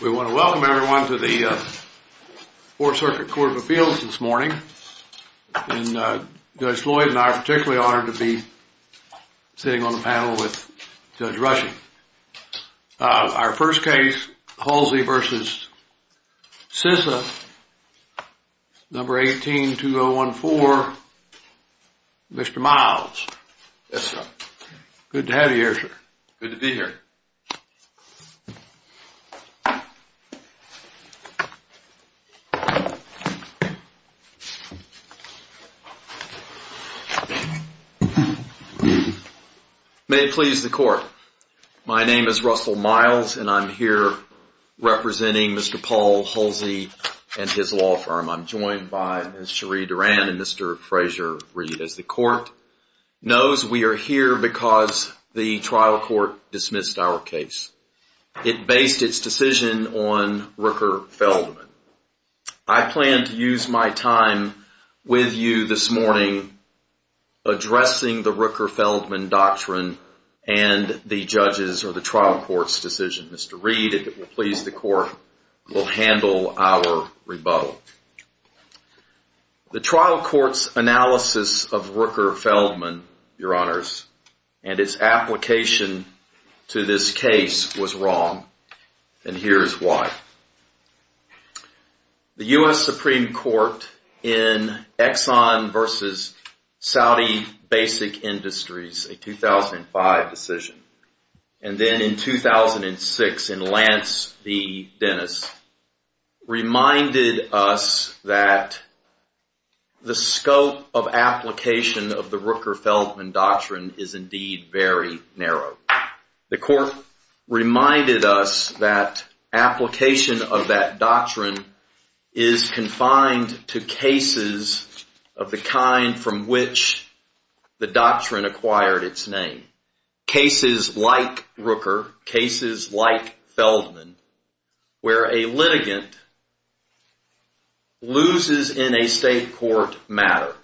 We want to welcome everyone to the 4th Circuit Court of Appeals this morning. Judge Floyd and I are particularly honored to be sitting on the panel with Judge Rushing. Our first case, Hulsey v. Cisa, No. 18-2014, Mr. Miles. Yes, sir. Good to have you here, sir. Good to be here. May it please the Court, my name is Russell Miles and I'm here representing Mr. Paul Hulsey and his law firm. I'm joined by Ms. Cherie Duran and Mr. Frazier-Reed. As the Court knows, we are here because the trial court dismissed our case. It based its decision on Rooker-Feldman. I plan to use my time with you this morning addressing the Rooker-Feldman doctrine and the judges' or the trial court's decision. Mr. Reed, if it will please the Court, will handle our rebuttal. The trial court's analysis of Rooker-Feldman, Your Honors, and its application to this case was wrong, and here is why. The U.S. Supreme Court in Exxon v. Saudi Basic Industries, a 2005 decision, and then in 2006 in Lance v. Dennis, reminded us that the scope of application of the Rooker-Feldman doctrine is indeed very narrow. The Court reminded us that application of that doctrine is confined to cases of the kind from which the doctrine acquired its name. Cases like Rooker, cases like Feldman, where a litigant loses in a state court matter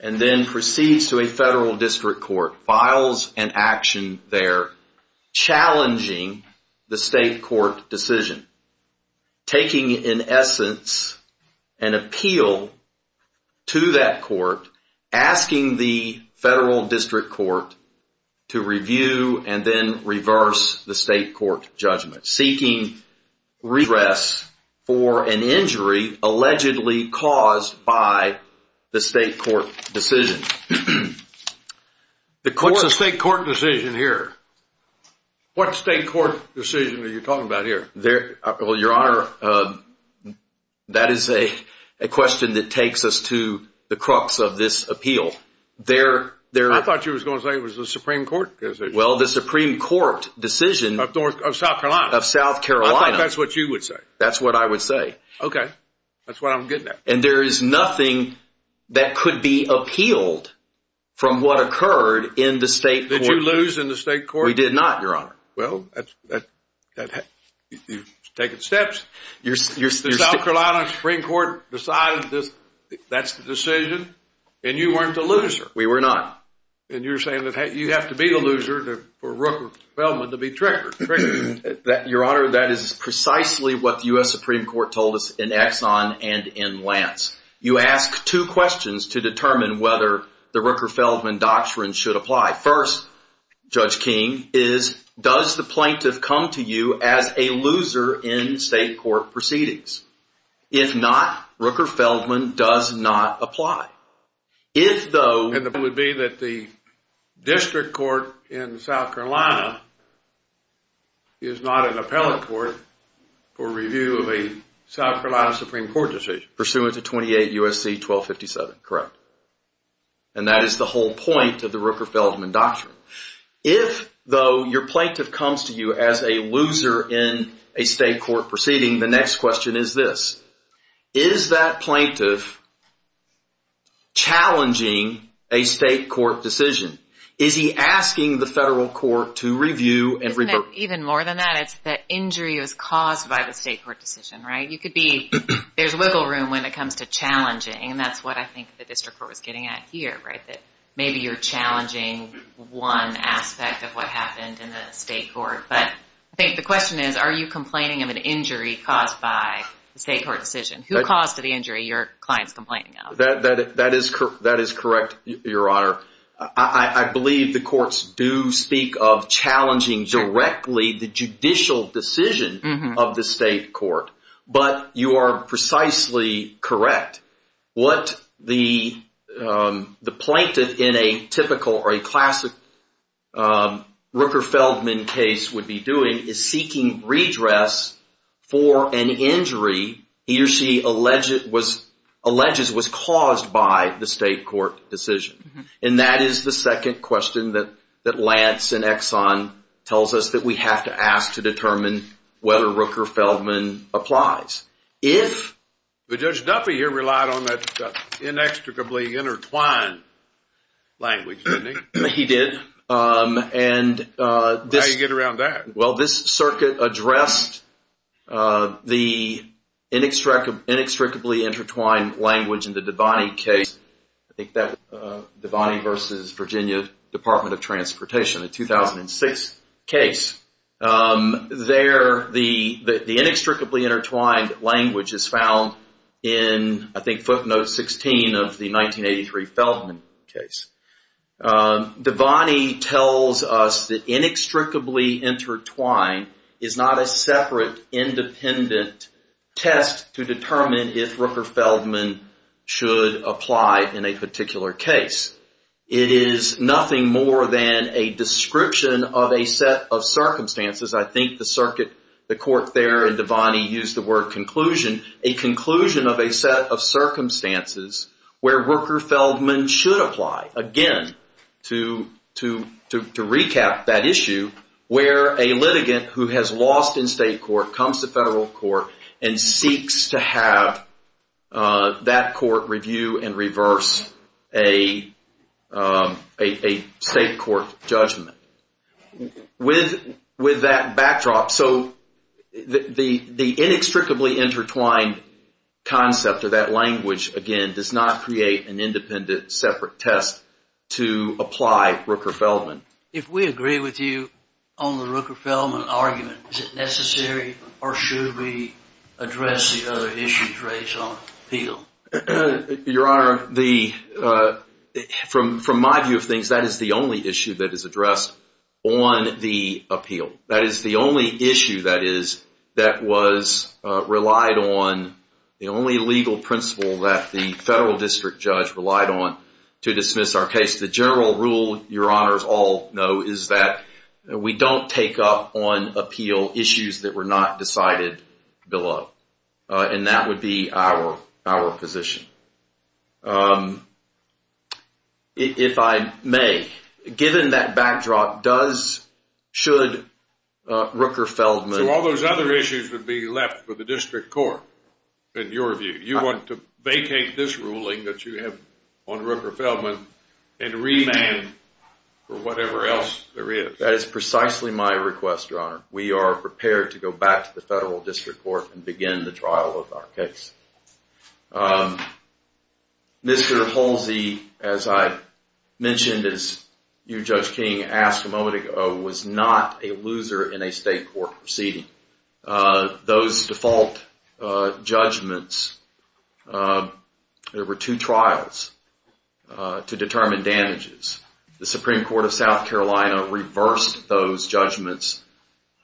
and then proceeds to a federal district court, files an action there challenging the state court decision, taking, in essence, an appeal to that court, asking the federal district court to review and then reverse the state court judgment, seeking redress for an injury allegedly caused by the state court decision. What's a state court decision here? What state court decision are you talking about here? Well, Your Honor, that is a question that takes us to the crux of this appeal. I thought you were going to say it was the Supreme Court decision. Well, the Supreme Court decision. Of South Carolina. Of South Carolina. I thought that's what you would say. That's what I would say. Okay. That's what I'm getting at. And there is nothing that could be appealed from what occurred in the state court. Did you lose in the state court? We did not, Your Honor. Well, you've taken steps. The South Carolina Supreme Court decided that's the decision, and you weren't the loser. We were not. And you're saying that you have to be the loser for Rooker-Feldman to be triggered. Your Honor, that is precisely what the U.S. Supreme Court told us in Exxon and in Lance. You ask two questions to determine whether the Rooker-Feldman doctrine should apply. First, Judge King, is does the plaintiff come to you as a loser in state court proceedings? If not, Rooker-Feldman does not apply. And the point would be that the district court in South Carolina is not an appellate court for review of a South Carolina Supreme Court decision. Pursuant to 28 U.S.C. 1257. Correct. And that is the whole point of the Rooker-Feldman doctrine. If, though, your plaintiff comes to you as a loser in a state court proceeding, the next question is this. Is that plaintiff challenging a state court decision? Is he asking the federal court to review and revert? Isn't it even more than that? It's that injury was caused by the state court decision, right? You could be, there's wiggle room when it comes to challenging. And that's what I think the district court was getting at here, right? That maybe you're challenging one aspect of what happened in the state court. But I think the question is, are you complaining of an injury caused by the state court decision? Who caused the injury your client's complaining of? That is correct, Your Honor. I believe the courts do speak of challenging directly the judicial decision of the state court. But you are precisely correct. What the plaintiff in a typical or a classic Rooker-Feldman case would be doing is seeking redress for an injury he or she alleges was caused by the state court decision. And that is the second question that Lance and Exxon tells us that we have to ask to determine whether Rooker-Feldman applies. But Judge Duffy here relied on that inextricably intertwined language, didn't he? He did. How do you get around that? Well, this circuit addressed the inextricably intertwined language in the Devaney case. I think that was Devaney v. Virginia Department of Transportation, a 2006 case. There, the inextricably intertwined language is found in, I think, footnote 16 of the 1983 Feldman case. Devaney tells us that inextricably intertwined is not a separate, independent test to determine if Rooker-Feldman should apply in a particular case. It is nothing more than a description of a set of circumstances. I think the circuit, the court there in Devaney used the word conclusion, a conclusion of a set of circumstances where Rooker-Feldman should apply. Again, to recap that issue, where a litigant who has lost in state court comes to federal court and seeks to have that court review and reverse a state court judgment. With that backdrop, so the inextricably intertwined concept of that language, again, does not create an independent, separate test to apply Rooker-Feldman. If we agree with you on the Rooker-Feldman argument, is it necessary or should we address the other issues raised on appeal? Your Honor, from my view of things, that is the only issue that is addressed on the appeal. That is the only issue that was relied on, the only legal principle that the federal district judge relied on to dismiss our case. The general rule, your honors all know, is that we don't take up on appeal issues that were not decided below. And that would be our position. If I may, given that backdrop, does, should Rooker-Feldman. So all those other issues would be left for the district court, in your view. You want to vacate this ruling that you have on Rooker-Feldman and remand for whatever else there is. That is precisely my request, your honor. We are prepared to go back to the federal district court and begin the trial of our case. Mr. Polsey, as I mentioned, as your Judge King asked a moment ago, was not a loser in a state court proceeding. Those default judgments, there were two trials to determine damages. The Supreme Court of South Carolina reversed those judgments.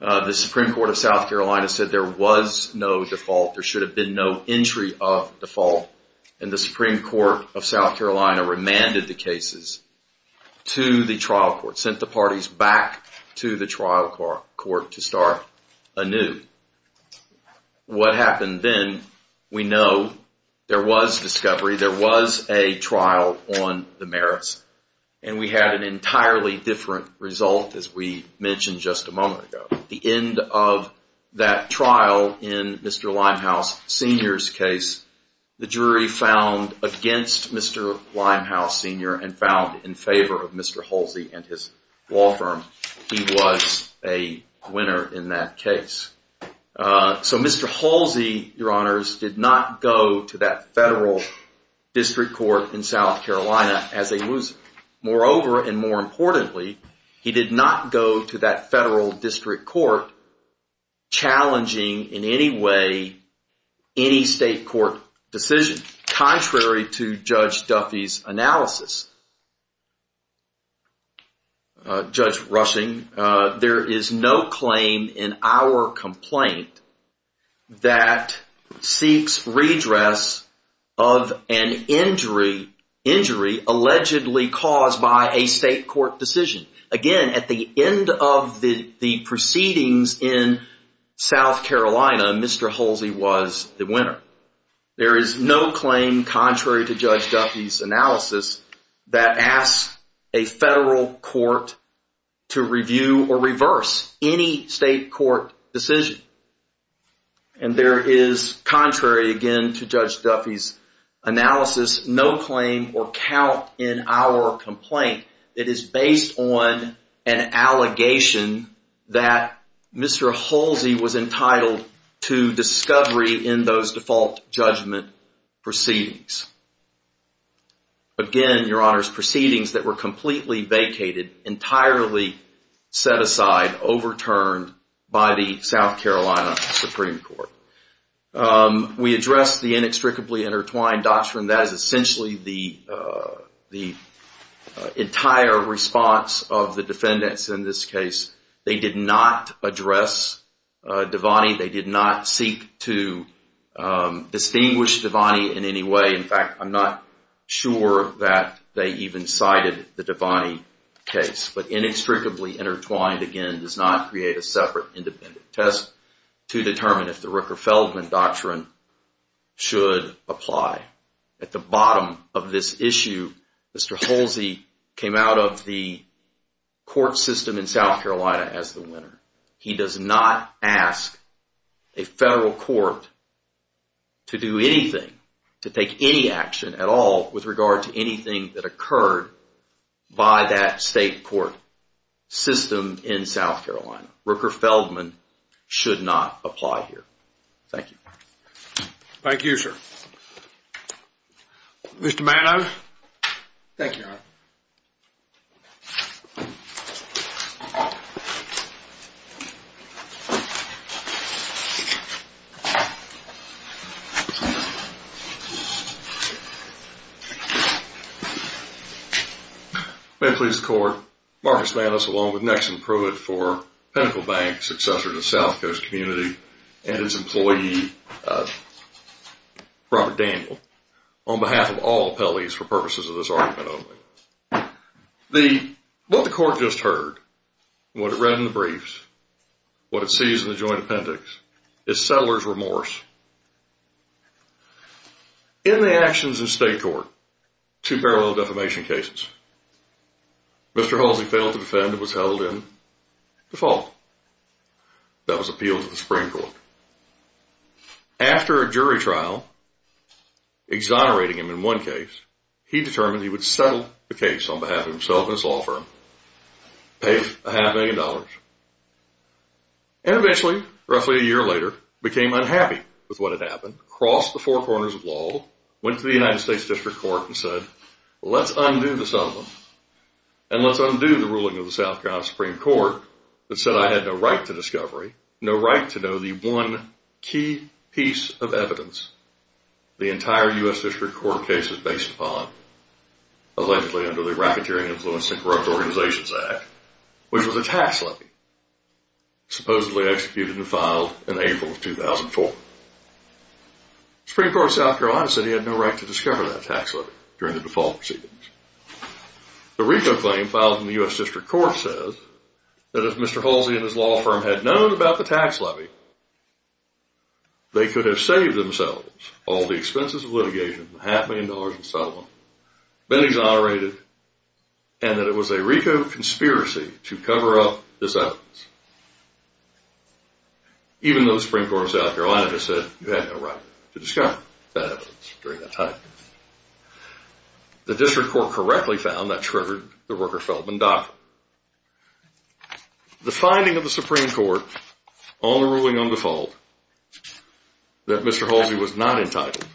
The Supreme Court of South Carolina said there was no default. There should have been no entry of default. And the Supreme Court of South Carolina remanded the cases to the trial court. Sent the parties back to the trial court to start anew. What happened then, we know there was discovery. There was a trial on the merits. And we had an entirely different result as we mentioned just a moment ago. The end of that trial in Mr. Limehouse Sr.'s case, the jury found against Mr. Limehouse Sr. and found in favor of Mr. Polsey and his law firm. He was a winner in that case. So Mr. Polsey, your honors, did not go to that federal district court in South Carolina as a loser. Moreover, and more importantly, he did not go to that federal district court challenging in any way any state court decision. Contrary to Judge Duffy's analysis, Judge Rushing, there is no claim in our complaint that seeks redress of an injury allegedly caused by a state court decision. Again, at the end of the proceedings in South Carolina, Mr. Polsey was the winner. There is no claim, contrary to Judge Duffy's analysis, that asks a federal court to review or reverse any state court decision. And there is, contrary again to Judge Duffy's analysis, no claim or count in our complaint. It is based on an allegation that Mr. Polsey was entitled to discovery in those default judgment proceedings. Again, your honors, proceedings that were completely vacated, entirely set aside, overturned by the South Carolina Supreme Court. We addressed the inextricably intertwined doctrine. That is essentially the entire response of the defendants in this case. They did not address Devani. They did not seek to distinguish Devani in any way. In fact, I'm not sure that they even cited the Devani case. But inextricably intertwined, again, does not create a separate independent test to determine if the Rooker-Feldman doctrine should apply. At the bottom of this issue, Mr. Polsey came out of the court system in South Carolina as the winner. He does not ask a federal court to do anything, to take any action at all with regard to anything that occurred by that state court system in South Carolina. Rooker-Feldman should not apply here. Thank you. Thank you, sir. Thank you, your honor. May it please the court, Marcus Mantis along with Nexon Pruitt for Pinnacle Bank, successor to South Coast Community, and its employee, Robert Daniel, on behalf of all appellees for purposes of this argument only. What the court just heard, what it read in the briefs, what it sees in the joint appendix, is settler's remorse. In the actions of state court, two parallel defamation cases, Mr. Polsey failed to defend and was held in default. That was appealed to the Supreme Court. After a jury trial, exonerating him in one case, he determined he would settle the case on behalf of himself and his law firm. Paid a half million dollars. And eventually, roughly a year later, became unhappy with what had happened, crossed the four corners of law, went to the United States District Court and said, let's undo the settlement and let's undo the ruling of the South Carolina Supreme Court that said I had no right to discovery, no right to know the one key piece of evidence. The entire U.S. District Court case is based upon, allegedly under the Racketeering Influence and Corrupt Organizations Act, which was a tax levy, supposedly executed and filed in April of 2004. Supreme Court of South Carolina said he had no right to discover that tax levy during the default proceedings. The RICO claim filed in the U.S. District Court says that if Mr. Polsey and his law firm had known about the tax levy, they could have saved themselves all the expenses of litigation, half a million dollars in settlement, been exonerated, and that it was a RICO conspiracy to cover up this evidence. Even though the Supreme Court of South Carolina just said you had no right to discover that evidence during that time. The District Court correctly found that triggered the Rooker-Feldman Doctrine. The finding of the Supreme Court on the ruling on default that Mr. Polsey was not entitled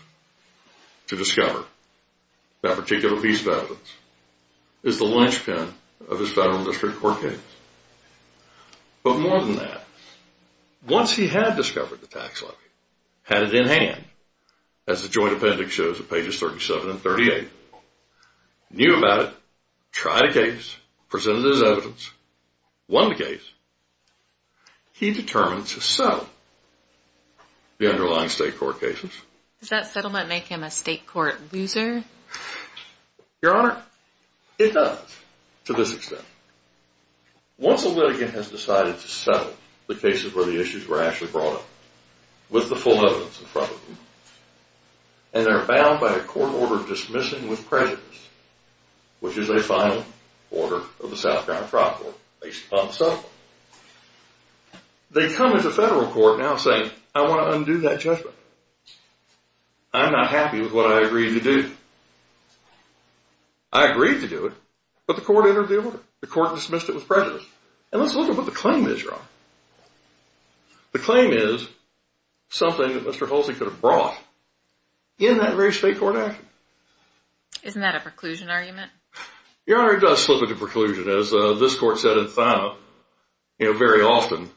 to discover that particular piece of evidence is the linchpin of his federal district court case. But more than that, once he had discovered the tax levy, had it in hand, as the joint appendix shows on pages 37 and 38, knew about it, tried a case, presented his evidence, won the case, he determined to settle the underlying state court cases. Does that settlement make him a state court loser? Your Honor, it does to this extent. Once a litigant has decided to settle the cases where the issues were actually brought up with the full evidence in front of them, and they're bound by a court order dismissing with prejudice, which is a final order of the South Carolina Tribal Court based upon the settlement, they come into federal court now saying, I want to undo that judgment. I'm not happy with what I agreed to do. I agreed to do it, but the court entered the order. The court dismissed it with prejudice. And let's look at what the claim is, Your Honor. The claim is something that Mr. Polsey could have brought in that very state court action. Isn't that a preclusion argument? Your Honor, it does slip into preclusion. As this court said in Thyme, you know, very often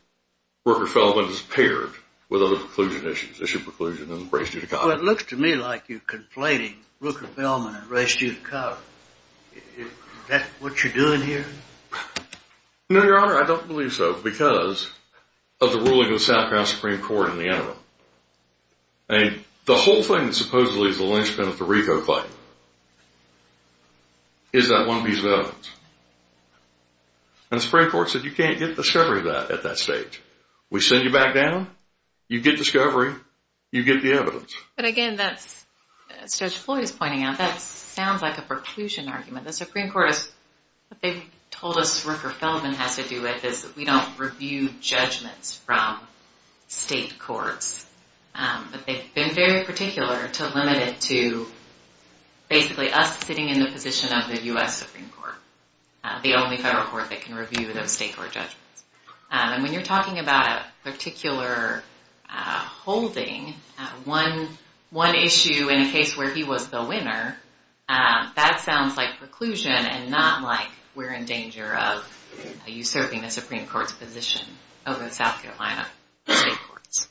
Rooker-Feldman is paired with other preclusion issues. Issue preclusion and race due to color. Well, it looks to me like you're complaining, Rooker-Feldman and race due to color. Is that what you're doing here? No, Your Honor, I don't believe so because of the ruling of the South Carolina Supreme Court in the interim. And the whole thing that supposedly is the linchpin of the RICO claim is that one piece of evidence. And the Supreme Court said you can't get discovery of that at that stage. We send you back down, you get discovery, you get the evidence. But again, that's, Judge Floyd is pointing out, that sounds like a preclusion argument. The Supreme Court has, what they've told us Rooker-Feldman has to do with is that we don't review judgments from state courts. But they've been very particular to limit it to basically us sitting in the position of the U.S. Supreme Court. The only federal court that can review those state court judgments. And when you're talking about a particular holding, one issue in a case where he was the winner, that sounds like preclusion and not like we're in danger of usurping the Supreme Court's position over the South Carolina state courts.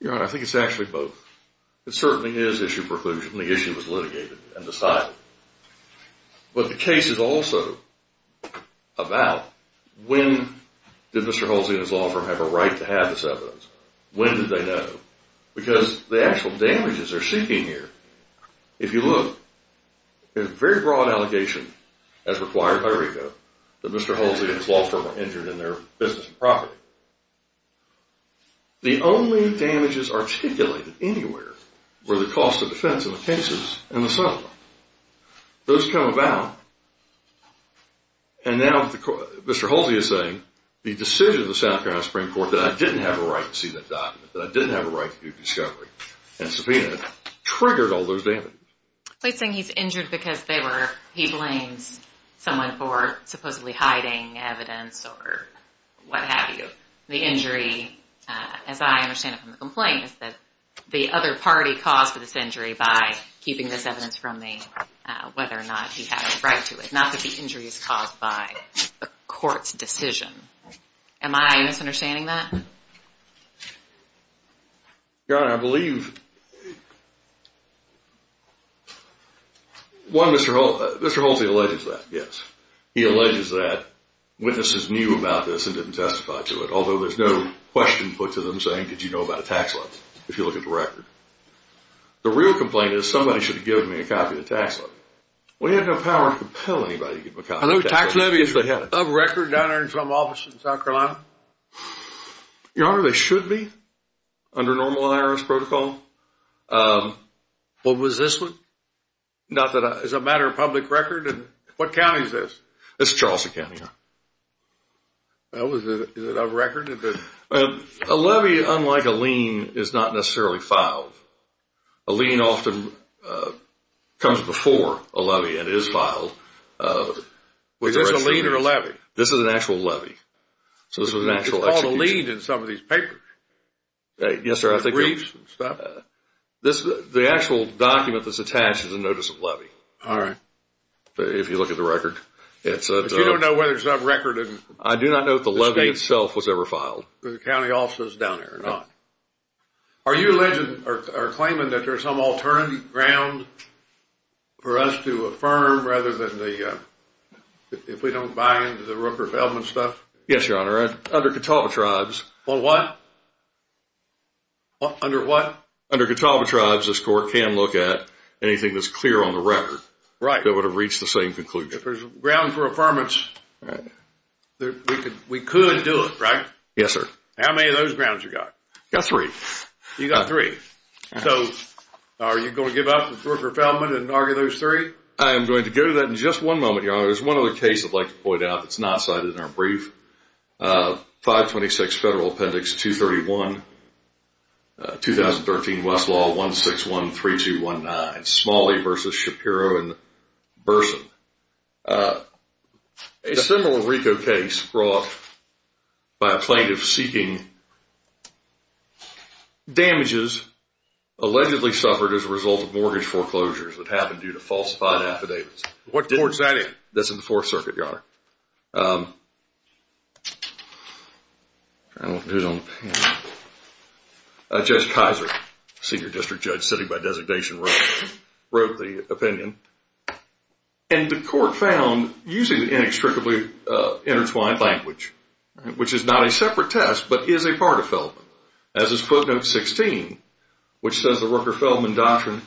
Your Honor, I think it's actually both. It certainly is issue preclusion. The issue was litigated and decided. But the case is also about when did Mr. Holsey and his law firm have a right to have this evidence. When did they know? Because the actual damages they're seeking here, if you look, there's a very broad allegation, as required by RICO, that Mr. Holsey and his law firm are injured in their business and property. The only damages articulated anywhere were the cost of defense in the cases and the settlement. Those come about, and now Mr. Holsey is saying, the decision of the South Carolina Supreme Court that I didn't have a right to see that document, that I didn't have a right to do a discovery, and subpoenaed, triggered all those damages. He's saying he's injured because he blames someone for supposedly hiding evidence or what have you. The injury, as I understand it from the complaint, is that the other party caused this injury by keeping this evidence from me, whether or not he had a right to it. Not that the injury is caused by a court's decision. Am I misunderstanding that? Your Honor, I believe, one, Mr. Holsey alleges that, yes. He alleges that witnesses knew about this and didn't testify to it, although there's no question put to them saying, did you know about a tax level, if you look at the record. The real complaint is somebody should have given me a copy of the tax levy. We have no power to compel anybody to give me a copy of the tax levy. Are those tax levies of record down there in some office in South Carolina? Your Honor, they should be, under normal IRS protocol. What was this one? Is it a matter of public record? What county is this? It's Charleston County, Your Honor. Is it of record? A levy, unlike a lien, is not necessarily filed. A lien often comes before a levy and is filed. Is this a lien or a levy? This is an actual levy. It's called a lien in some of these papers. Yes, sir. The actual document that's attached is a notice of levy. All right. If you look at the record. But you don't know whether it's a record. I do not know if the levy itself was ever filed. The county office is down there or not. Are you alleging or claiming that there's some alternative ground for us to affirm, rather than if we don't buy into the Rooker-Feldman stuff? Yes, Your Honor. Under Catawba tribes. Under what? Under Catawba tribes, this court can look at anything that's clear on the record. Right. That would have reached the same conclusion. If there's ground for affirmance. Right. We could do it, right? Yes, sir. How many of those grounds have you got? I've got three. You've got three. So are you going to give up the Rooker-Feldman and argue those three? I am going to go to that in just one moment, Your Honor. There's one other case I'd like to point out that's not cited in our brief. 526 Federal Appendix 231, 2013 Westlaw 1613219. That's Smalley versus Shapiro and Burson. A similar RICO case brought by a plaintiff seeking damages, allegedly suffered as a result of mortgage foreclosures that happened due to falsified affidavits. What court is that in? I don't want to do it on the pen. Judge Kaiser, senior district judge sitting by designation Roe, wrote the opinion. And the court found, using the inextricably intertwined language, which is not a separate test but is a part of Feldman, as is Quote Note 16, which says the Rooker-Feldman doctrine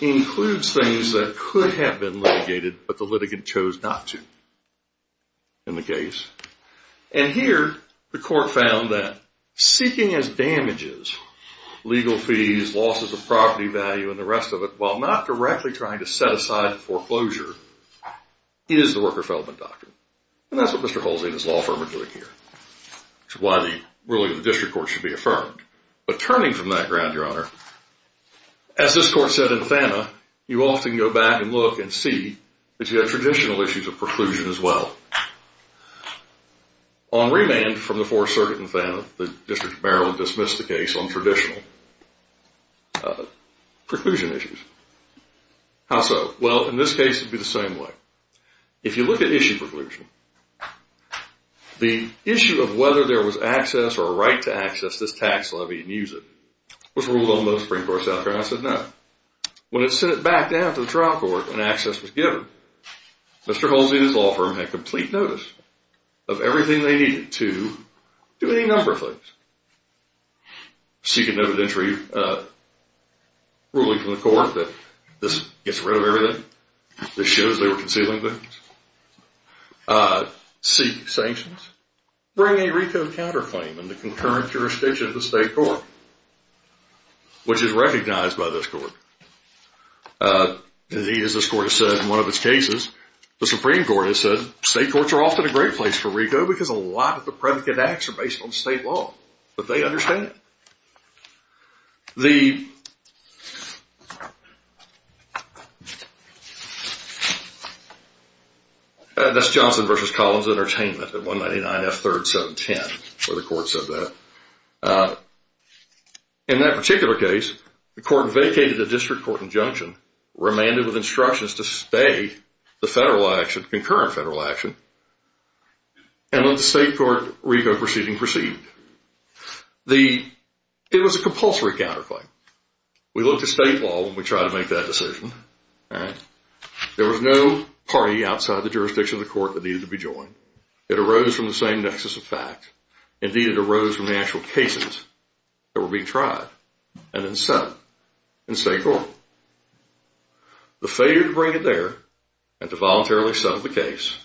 includes things that could have been litigated but the litigant chose not to in the case. And here, the court found that seeking as damages legal fees, losses of property value, and the rest of it, while not directly trying to set aside foreclosure, is the Rooker-Feldman doctrine. And that's what Mr. Halsey and his law firm are doing here, which is why the ruling of the district court should be affirmed. But turning from that ground, Your Honor, as this court said in Thana, you often go back and look and see that you have traditional issues of preclusion as well. On remand from the Fourth Circuit in Thana, the District of Maryland dismissed the case on traditional preclusion issues. How so? Well, in this case, it would be the same way. If you look at issue preclusion, the issue of whether there was access or a right to access this tax levy and use it was ruled on most Supreme Courts out there, and I said no. When it was sent back down to the trial court and access was given, Mr. Halsey and his law firm had complete notice of everything they needed to do any number of things. Seek a noted entry ruling from the court that this gets rid of everything. This shows they were concealing things. Seek sanctions. Bring a reconed counterclaim in the concurrent jurisdiction of the state court, which is recognized by this court. As this court has said in one of its cases, the Supreme Court has said state courts are often a great place for RICO because a lot of the predicate acts are based on state law, but they understand. That's Johnson v. Collins Entertainment at 199 F. 3rd, 710, where the court said that. In that particular case, the court vacated the district court injunction, remanded with instructions to stay the federal action, the concurrent federal action, and let the state court RICO proceeding proceed. It was a compulsory counterclaim. We looked at state law when we tried to make that decision. There was no party outside the jurisdiction of the court that needed to be joined. It arose from the same nexus of fact. Indeed, it arose from the actual cases that were being tried and then sent in state court. The failure to bring it there and to voluntarily settle the case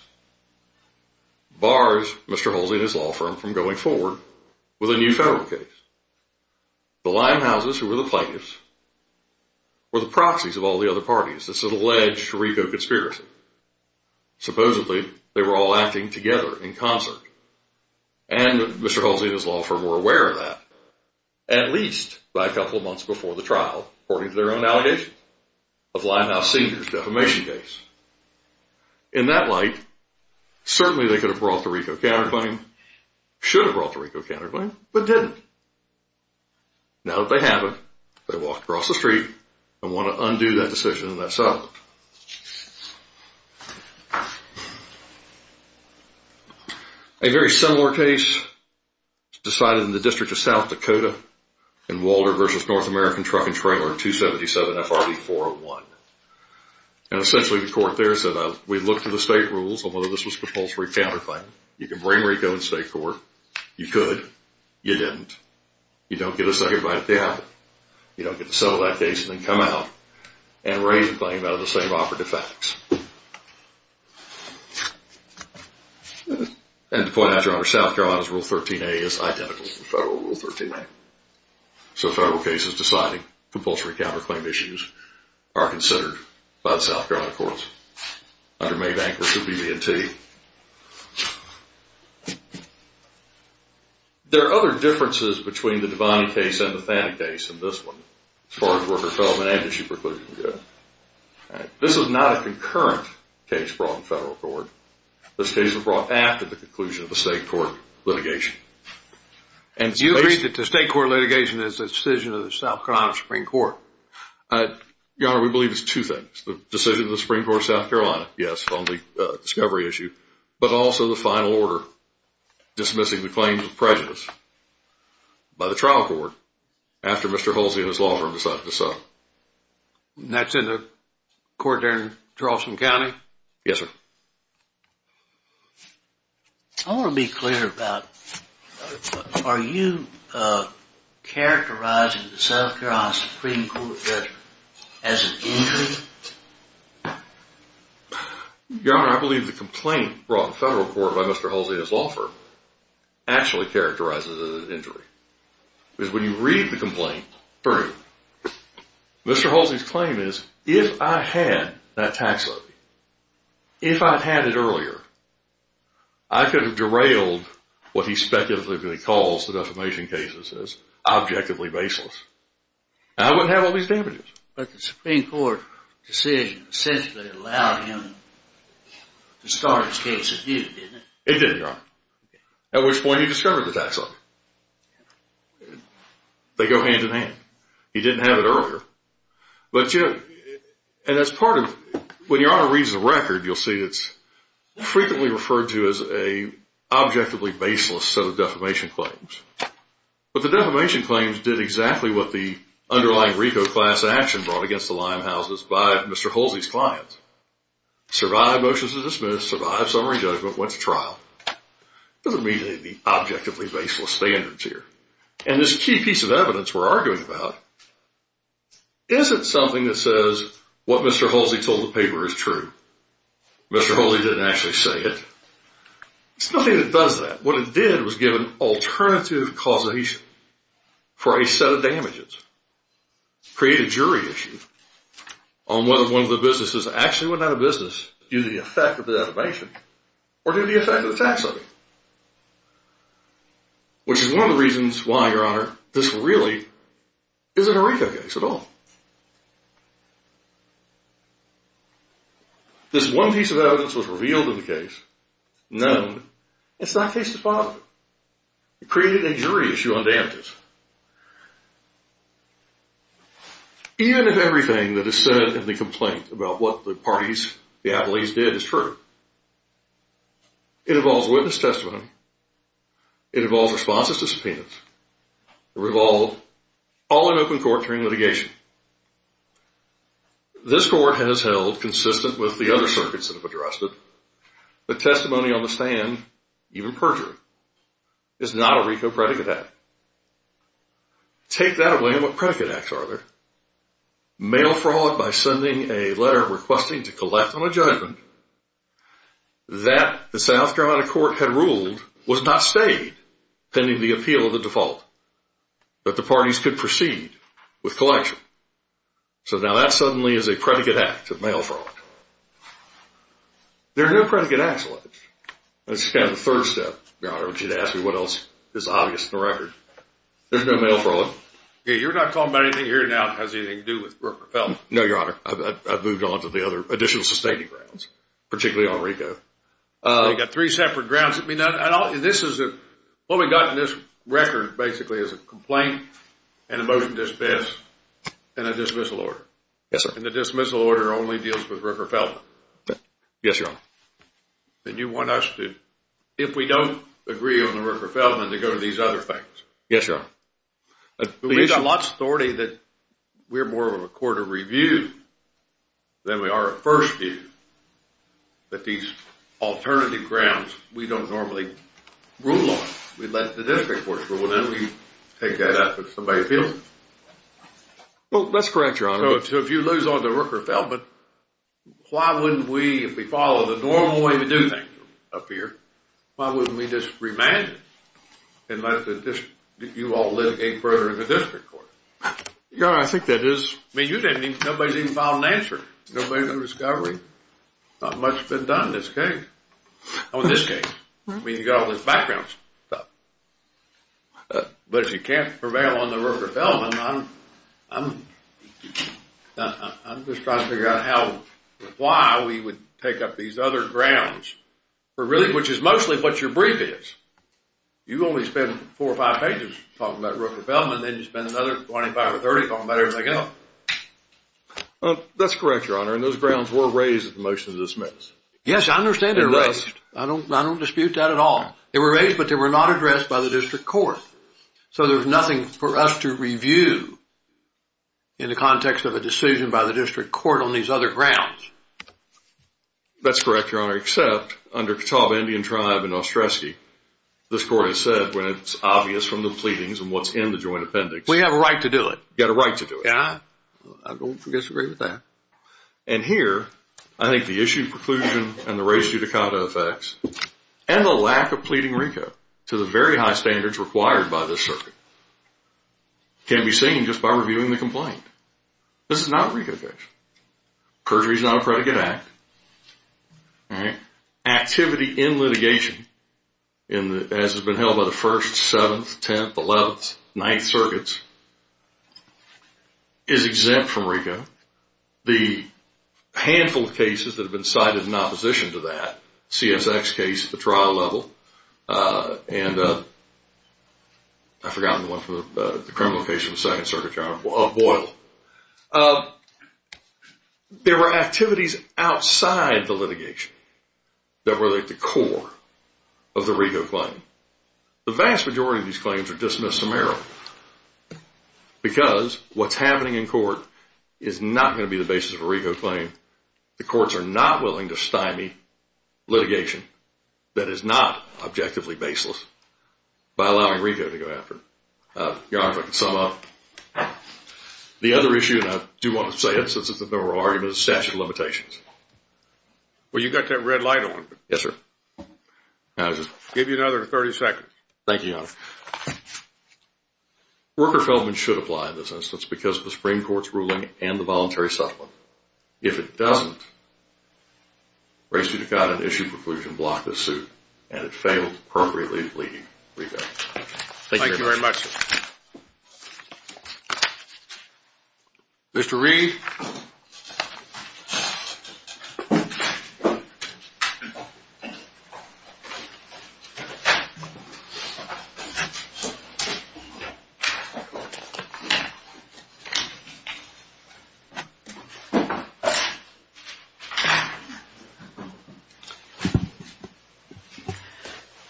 bars Mr. Halsey and his law firm from going forward with a new federal case. The Limehouses, who were the plaintiffs, were the proxies of all the other parties. This is alleged RICO conspiracy. Supposedly, they were all acting together in concert, and Mr. Halsey and his law firm were aware of that, at least by a couple of months before the trial, according to their own allegations, of Limehouse Senior's defamation case. In that light, certainly they could have brought the RICO counterclaim, should have brought the RICO counterclaim, but didn't. Now that they have it, they walk across the street and want to undo that decision and that's up. A very similar case decided in the District of South Dakota in Walter v. North American Truck and Trailer 277 FRB 401. And essentially the court there said, we looked at the state rules on whether this was compulsory counterclaim. You can bring RICO in state court. You could. You didn't. You don't get a second bite at the apple. You don't get to settle that case and then come out and raise a claim out of the same operative facts. And to point out, Your Honor, South Carolina's Rule 13a is identical to the federal Rule 13a. So federal cases deciding compulsory counterclaim issues are considered by the South Carolina Courts under May Bankers subvention T. There are other differences between the Devaney case and the Thaddeke case in this one as far as worker-fellowment and issue preclusion go. This is not a concurrent case brought in federal court. This case was brought after the conclusion of the state court litigation. Do you agree that the state court litigation is the decision of the South Carolina Supreme Court? Your Honor, we believe it's two things. The decision of the Supreme Court of South Carolina, yes, on the discovery issue, but also the final order dismissing the claims of prejudice by the trial court after Mr. Holsey and his law firm decided to sue. And that's in the court there in Charleston County? Yes, sir. I want to be clear about, are you characterizing the South Carolina Supreme Court judgment as an injury? Your Honor, I believe the complaint brought in federal court by Mr. Holsey and his law firm actually characterizes it as an injury. Because when you read the complaint through, Mr. Holsey's claim is, if I had that tax levy, if I had it earlier, I could have derailed what he speculatively calls the defamation cases as objectively baseless. And I wouldn't have all these damages. But the Supreme Court decision essentially allowed him to start his case as new, didn't it? It did, Your Honor. At which point he discovered the tax levy. They go hand in hand. He didn't have it earlier. And as part of, when Your Honor reads the record, you'll see it's frequently referred to as an objectively baseless set of defamation claims. But the defamation claims did exactly what the underlying RICO class action brought against the Limehouses by Mr. Holsey's client. Survived motions to dismiss, survived summary judgment, went to trial. It doesn't mean they'd be objectively baseless standards here. And this key piece of evidence we're arguing about isn't something that says what Mr. Holsey told the paper is true. Mr. Holsey didn't actually say it. It's nothing that does that. What it did was give an alternative causation for a set of damages. Create a jury issue on whether one of the businesses actually went out of business due to the effect of the defamation or due to the effect of the tax levy. Which is one of the reasons why, Your Honor, this really isn't a RICO case at all. This one piece of evidence was revealed in the case, known. It's that piece of evidence. It created a jury issue on damages. Even if everything that is said in the complaint about what the parties, the Attlees, did is true, it involves witness testimony. It involves responses to subpoenas. It revolved all in open court during litigation. This court has held consistent with the other circuits that have addressed it that testimony on the stand, even perjury, is not a RICO predicate act. Take that away and what predicate acts are there? Mail fraud by sending a letter requesting to collect on a judgment. That, the South Carolina court had ruled, was not stayed pending the appeal of the default. But the parties could proceed with collection. So now that suddenly is a predicate act of mail fraud. There are no predicate acts like it. That's kind of the third step, Your Honor, which you'd ask me what else is obvious in the record. There's no mail fraud. You're not talking about anything here now that has anything to do with Brooke or Felton? No, Your Honor. I've moved on to the other additional sustaining grounds, particularly on RICO. You've got three separate grounds. What we've got in this record, basically, is a complaint and a motion to dismiss and a dismissal order. Yes, sir. And the dismissal order only deals with Brooke or Felton? Yes, Your Honor. And you want us to, if we don't agree on the Brooke or Felton, to go to these other things? Yes, Your Honor. We've got lots of authority that we're more of a court of review than we are a first view. But these alternative grounds, we don't normally rule on. We let the district courts rule on them. We take that out if somebody feels it. Well, that's correct, Your Honor. So if you lose on the Brooke or Felton, why wouldn't we, if we follow the normal way we do things up here, why wouldn't we just remand it and let you all live eight further in the district court? Your Honor, I think that is... I mean, nobody's even filed an answer. Nobody's in discovery. Not much has been done in this case. I mean, in this case. I mean, you've got all this background stuff. But if you can't prevail on the Brooke or Felton, I'm just trying to figure out how, why we would take up these other grounds, which is mostly what your brief is. You only spend four or five pages talking about Brooke or Felton, and then you spend another 25 or 30 talking about everything else. That's correct, Your Honor. And those grounds were raised at the motion to dismiss. Yes, I understand they were raised. I don't dispute that at all. They were raised, but they were not addressed by the district court. So there's nothing for us to review in the context of a decision by the district court on these other grounds. That's correct, Your Honor. Except under Catawba Indian Tribe and Ostrowski, this court has said when it's obvious from the pleadings and what's in the joint appendix... We have a right to do it. You have a right to do it. I don't disagree with that. And here, I think the issue of preclusion and the race judicata effects, and the lack of pleading RICO to the very high standards required by this circuit, can be seen just by reviewing the complaint. This is not a RICO case. Perjury is not a predicate act. Activity in litigation, as has been held by the 1st, 7th, 10th, 11th, 9th circuits, is exempt from RICO. The handful of cases that have been cited in opposition to that, CSX case at the trial level, and I've forgotten the one from the criminal case from the 2nd Circuit, Your Honor. Boyle. There are activities outside the litigation that relate to core of the RICO claim. The vast majority of these claims are dismissed summarily because what's happening in court is not going to be the basis of a RICO claim. The courts are not willing to stymie litigation that is not objectively baseless by allowing RICO to go after it. Your Honor, if I can sum up. The other issue, and I do want to say it since it's a memorable argument, is statute of limitations. Well, you've got that red light on. Yes, sir. I'll give you another 30 seconds. Thank you, Your Honor. Worker Feldman should apply in this instance because of the Supreme Court's ruling and the voluntary settlement. If it doesn't, race you to God and issue a preclusion to block this suit, and it failed appropriately to plead RICO. Thank you very much, sir. Mr. Reed.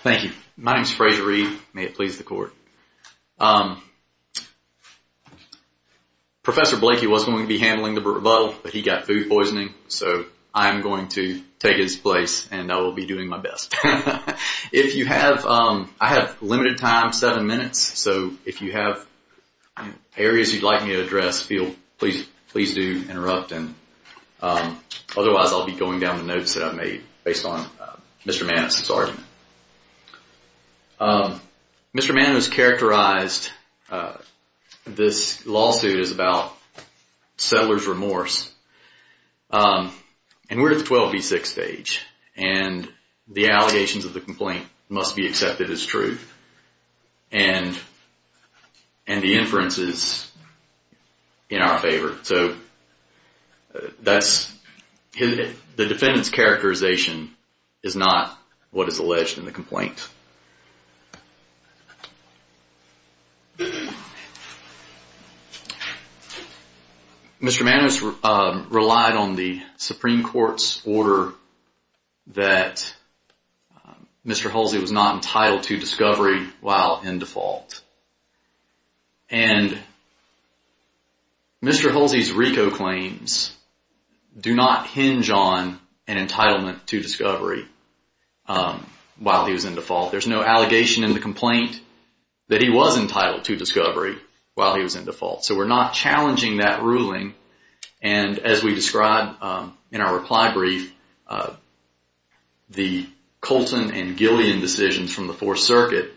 Thank you. My name is Fraser Reed. May it please the court. Professor Blakey was going to be handling the rebuttal, but he got food poisoning, so I am going to take his place, and I will be doing my best. If you have, I have limited time, seven minutes, so if you have areas you'd like me to address, please do interrupt. Otherwise, I'll be going down the notes that I made based on Mr. Mann's argument. Mr. Mann has characterized this lawsuit as about settler's remorse, and we're at the 12B6 stage, and the allegations of the complaint must be accepted as true, and the inference is in our favor. The defendant's characterization is not what is alleged in the complaint. Mr. Mann has relied on the Supreme Court's order Mr. Hulsey was not entitled to discovery while in default, Mr. Hulsey's RICO claims do not hinge on an entitlement to discovery while he was in default. There's no allegation in the complaint that he was entitled to discovery while he was in default. So we're not challenging that ruling, and as we described in our reply brief, the Colton and Gillian decisions from the Fourth Circuit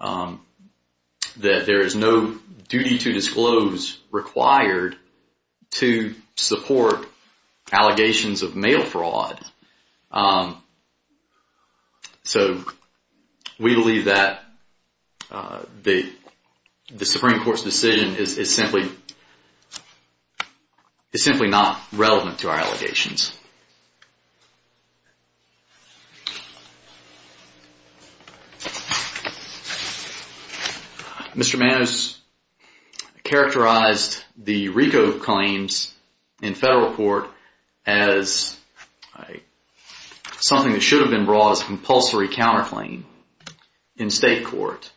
that there is no duty to disclose required to support allegations of mail fraud. So, we believe that the Supreme Court's decision is simply not relevant to our allegations. Mr. Mann has characterized the RICO claims in federal court as something that should have been brought as a compulsory counterclaim in state court,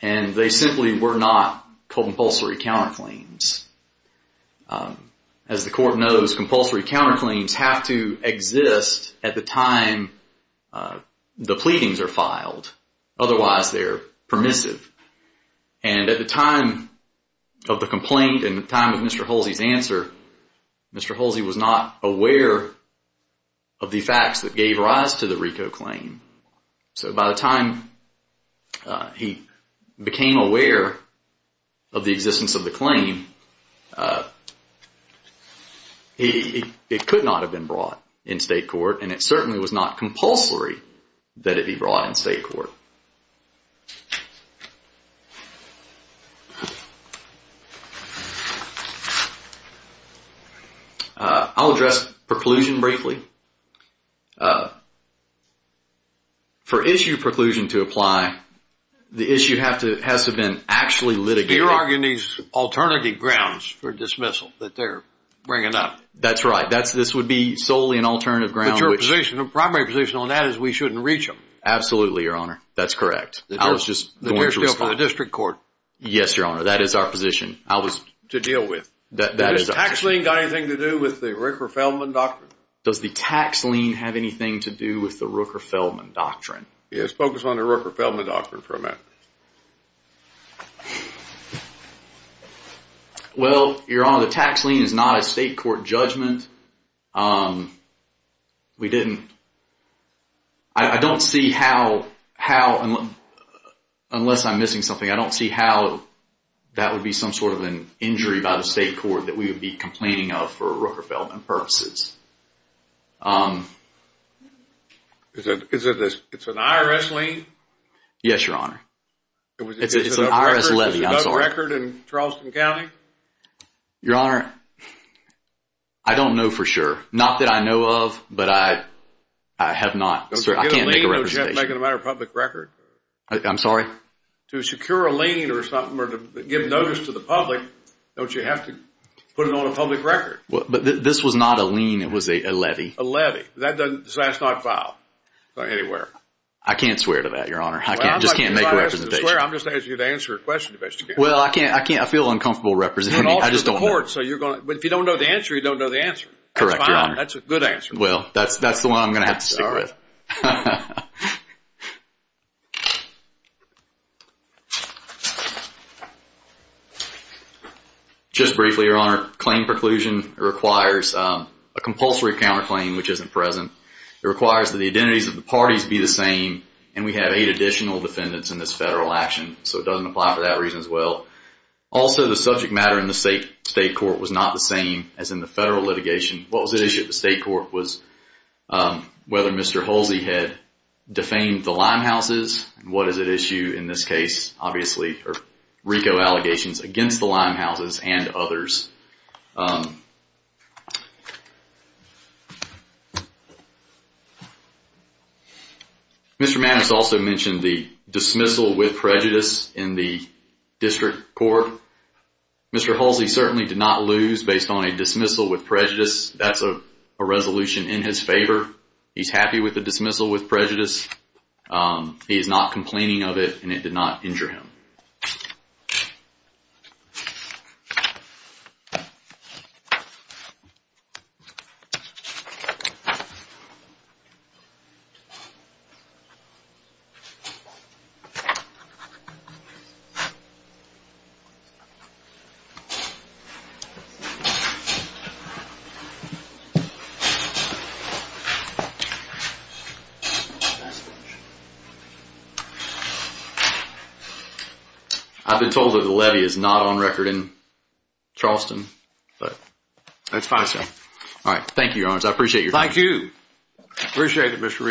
and they simply were not compulsory counterclaims. As the court knows, compulsory counterclaims have to exist at the time the pleadings are filed. Otherwise, they're permissive. And at the time of the complaint and the time of Mr. Hulsey's answer, Mr. Hulsey was not aware of the facts that gave rise to the RICO claim. So by the time he became aware of the existence of the claim, it could not have been brought in state court, and it certainly was not compulsory that it be brought in state court. I'll address preclusion briefly. For issue preclusion to apply the issue has to have been actually litigated. You're arguing these alternative grounds for dismissal that they're bringing up. That's right. This would be solely an alternative ground. But your position, your primary position on that is we shouldn't reach them. Absolutely, Your Honor. That's correct. I was just going to respond. Yes, Your Honor. That is our position. I was... To deal with. Does the tax lien have anything to do with the Rooker-Feldman Doctrine? Does the tax lien have anything to do with the Rooker-Feldman Doctrine? It's focused on the Rooker-Feldman Doctrine for a minute. Well, Your Honor, the tax lien is not a state court judgment. We didn't... I don't see how... unless I'm missing something, I don't see how that would be some sort of an injury by the state court that we would be complaining of for Rooker-Feldman purposes. It's an IRS lien? Yes, Your Honor. It's an IRS levy. I'm sorry. Does it have a record in Charleston County? Your Honor, I don't know for sure. Not that I know of, but I have not... I can't make a representation. Does getting a lien make it a matter of public record? I'm sorry? To secure a lien or something or to give notice to the public, don't you have to put it on a public record? This was not a lien. It was a levy. A levy. That's not filed anywhere. I can't swear to that, Your Honor. I just can't make a representation. If I ask you to swear, I'm just asking you to answer a question, Investigator. Well, I can't. I feel uncomfortable representing you. But if you don't know the answer, you don't know the answer. Correct, Your Honor. That's a good answer. Well, that's the one I'm going to have to stick with. Just briefly, Your Honor, claim preclusion requires a compulsory counterclaim which isn't present. It requires that the identities of the parties be the same and we have eight additional defendants in this federal action. So it doesn't apply for that reason as well. Also, the subject matter in the state court was not the same as in the federal litigation. What was at issue at the state court was whether Mr. Hulsey had defamed the Limehouses. What is at issue in this case, obviously, are RICO allegations against the Limehouses and others. Mr. Maddox also mentioned the dismissal with prejudice in the district court. Mr. Hulsey certainly did not lose based on a dismissal with prejudice. That's a resolution in his favor. He's happy with the dismissal with prejudice. He is not complaining of it and it did not injure him. Oh, sorry... Nice pitcher... I've been told the levy is not on record in Charleston, but... That's fine, sir. Alright, thank you, Your Honors. I appreciate your patience. Thank you! I appreciate it Mr. Reid. Thank you.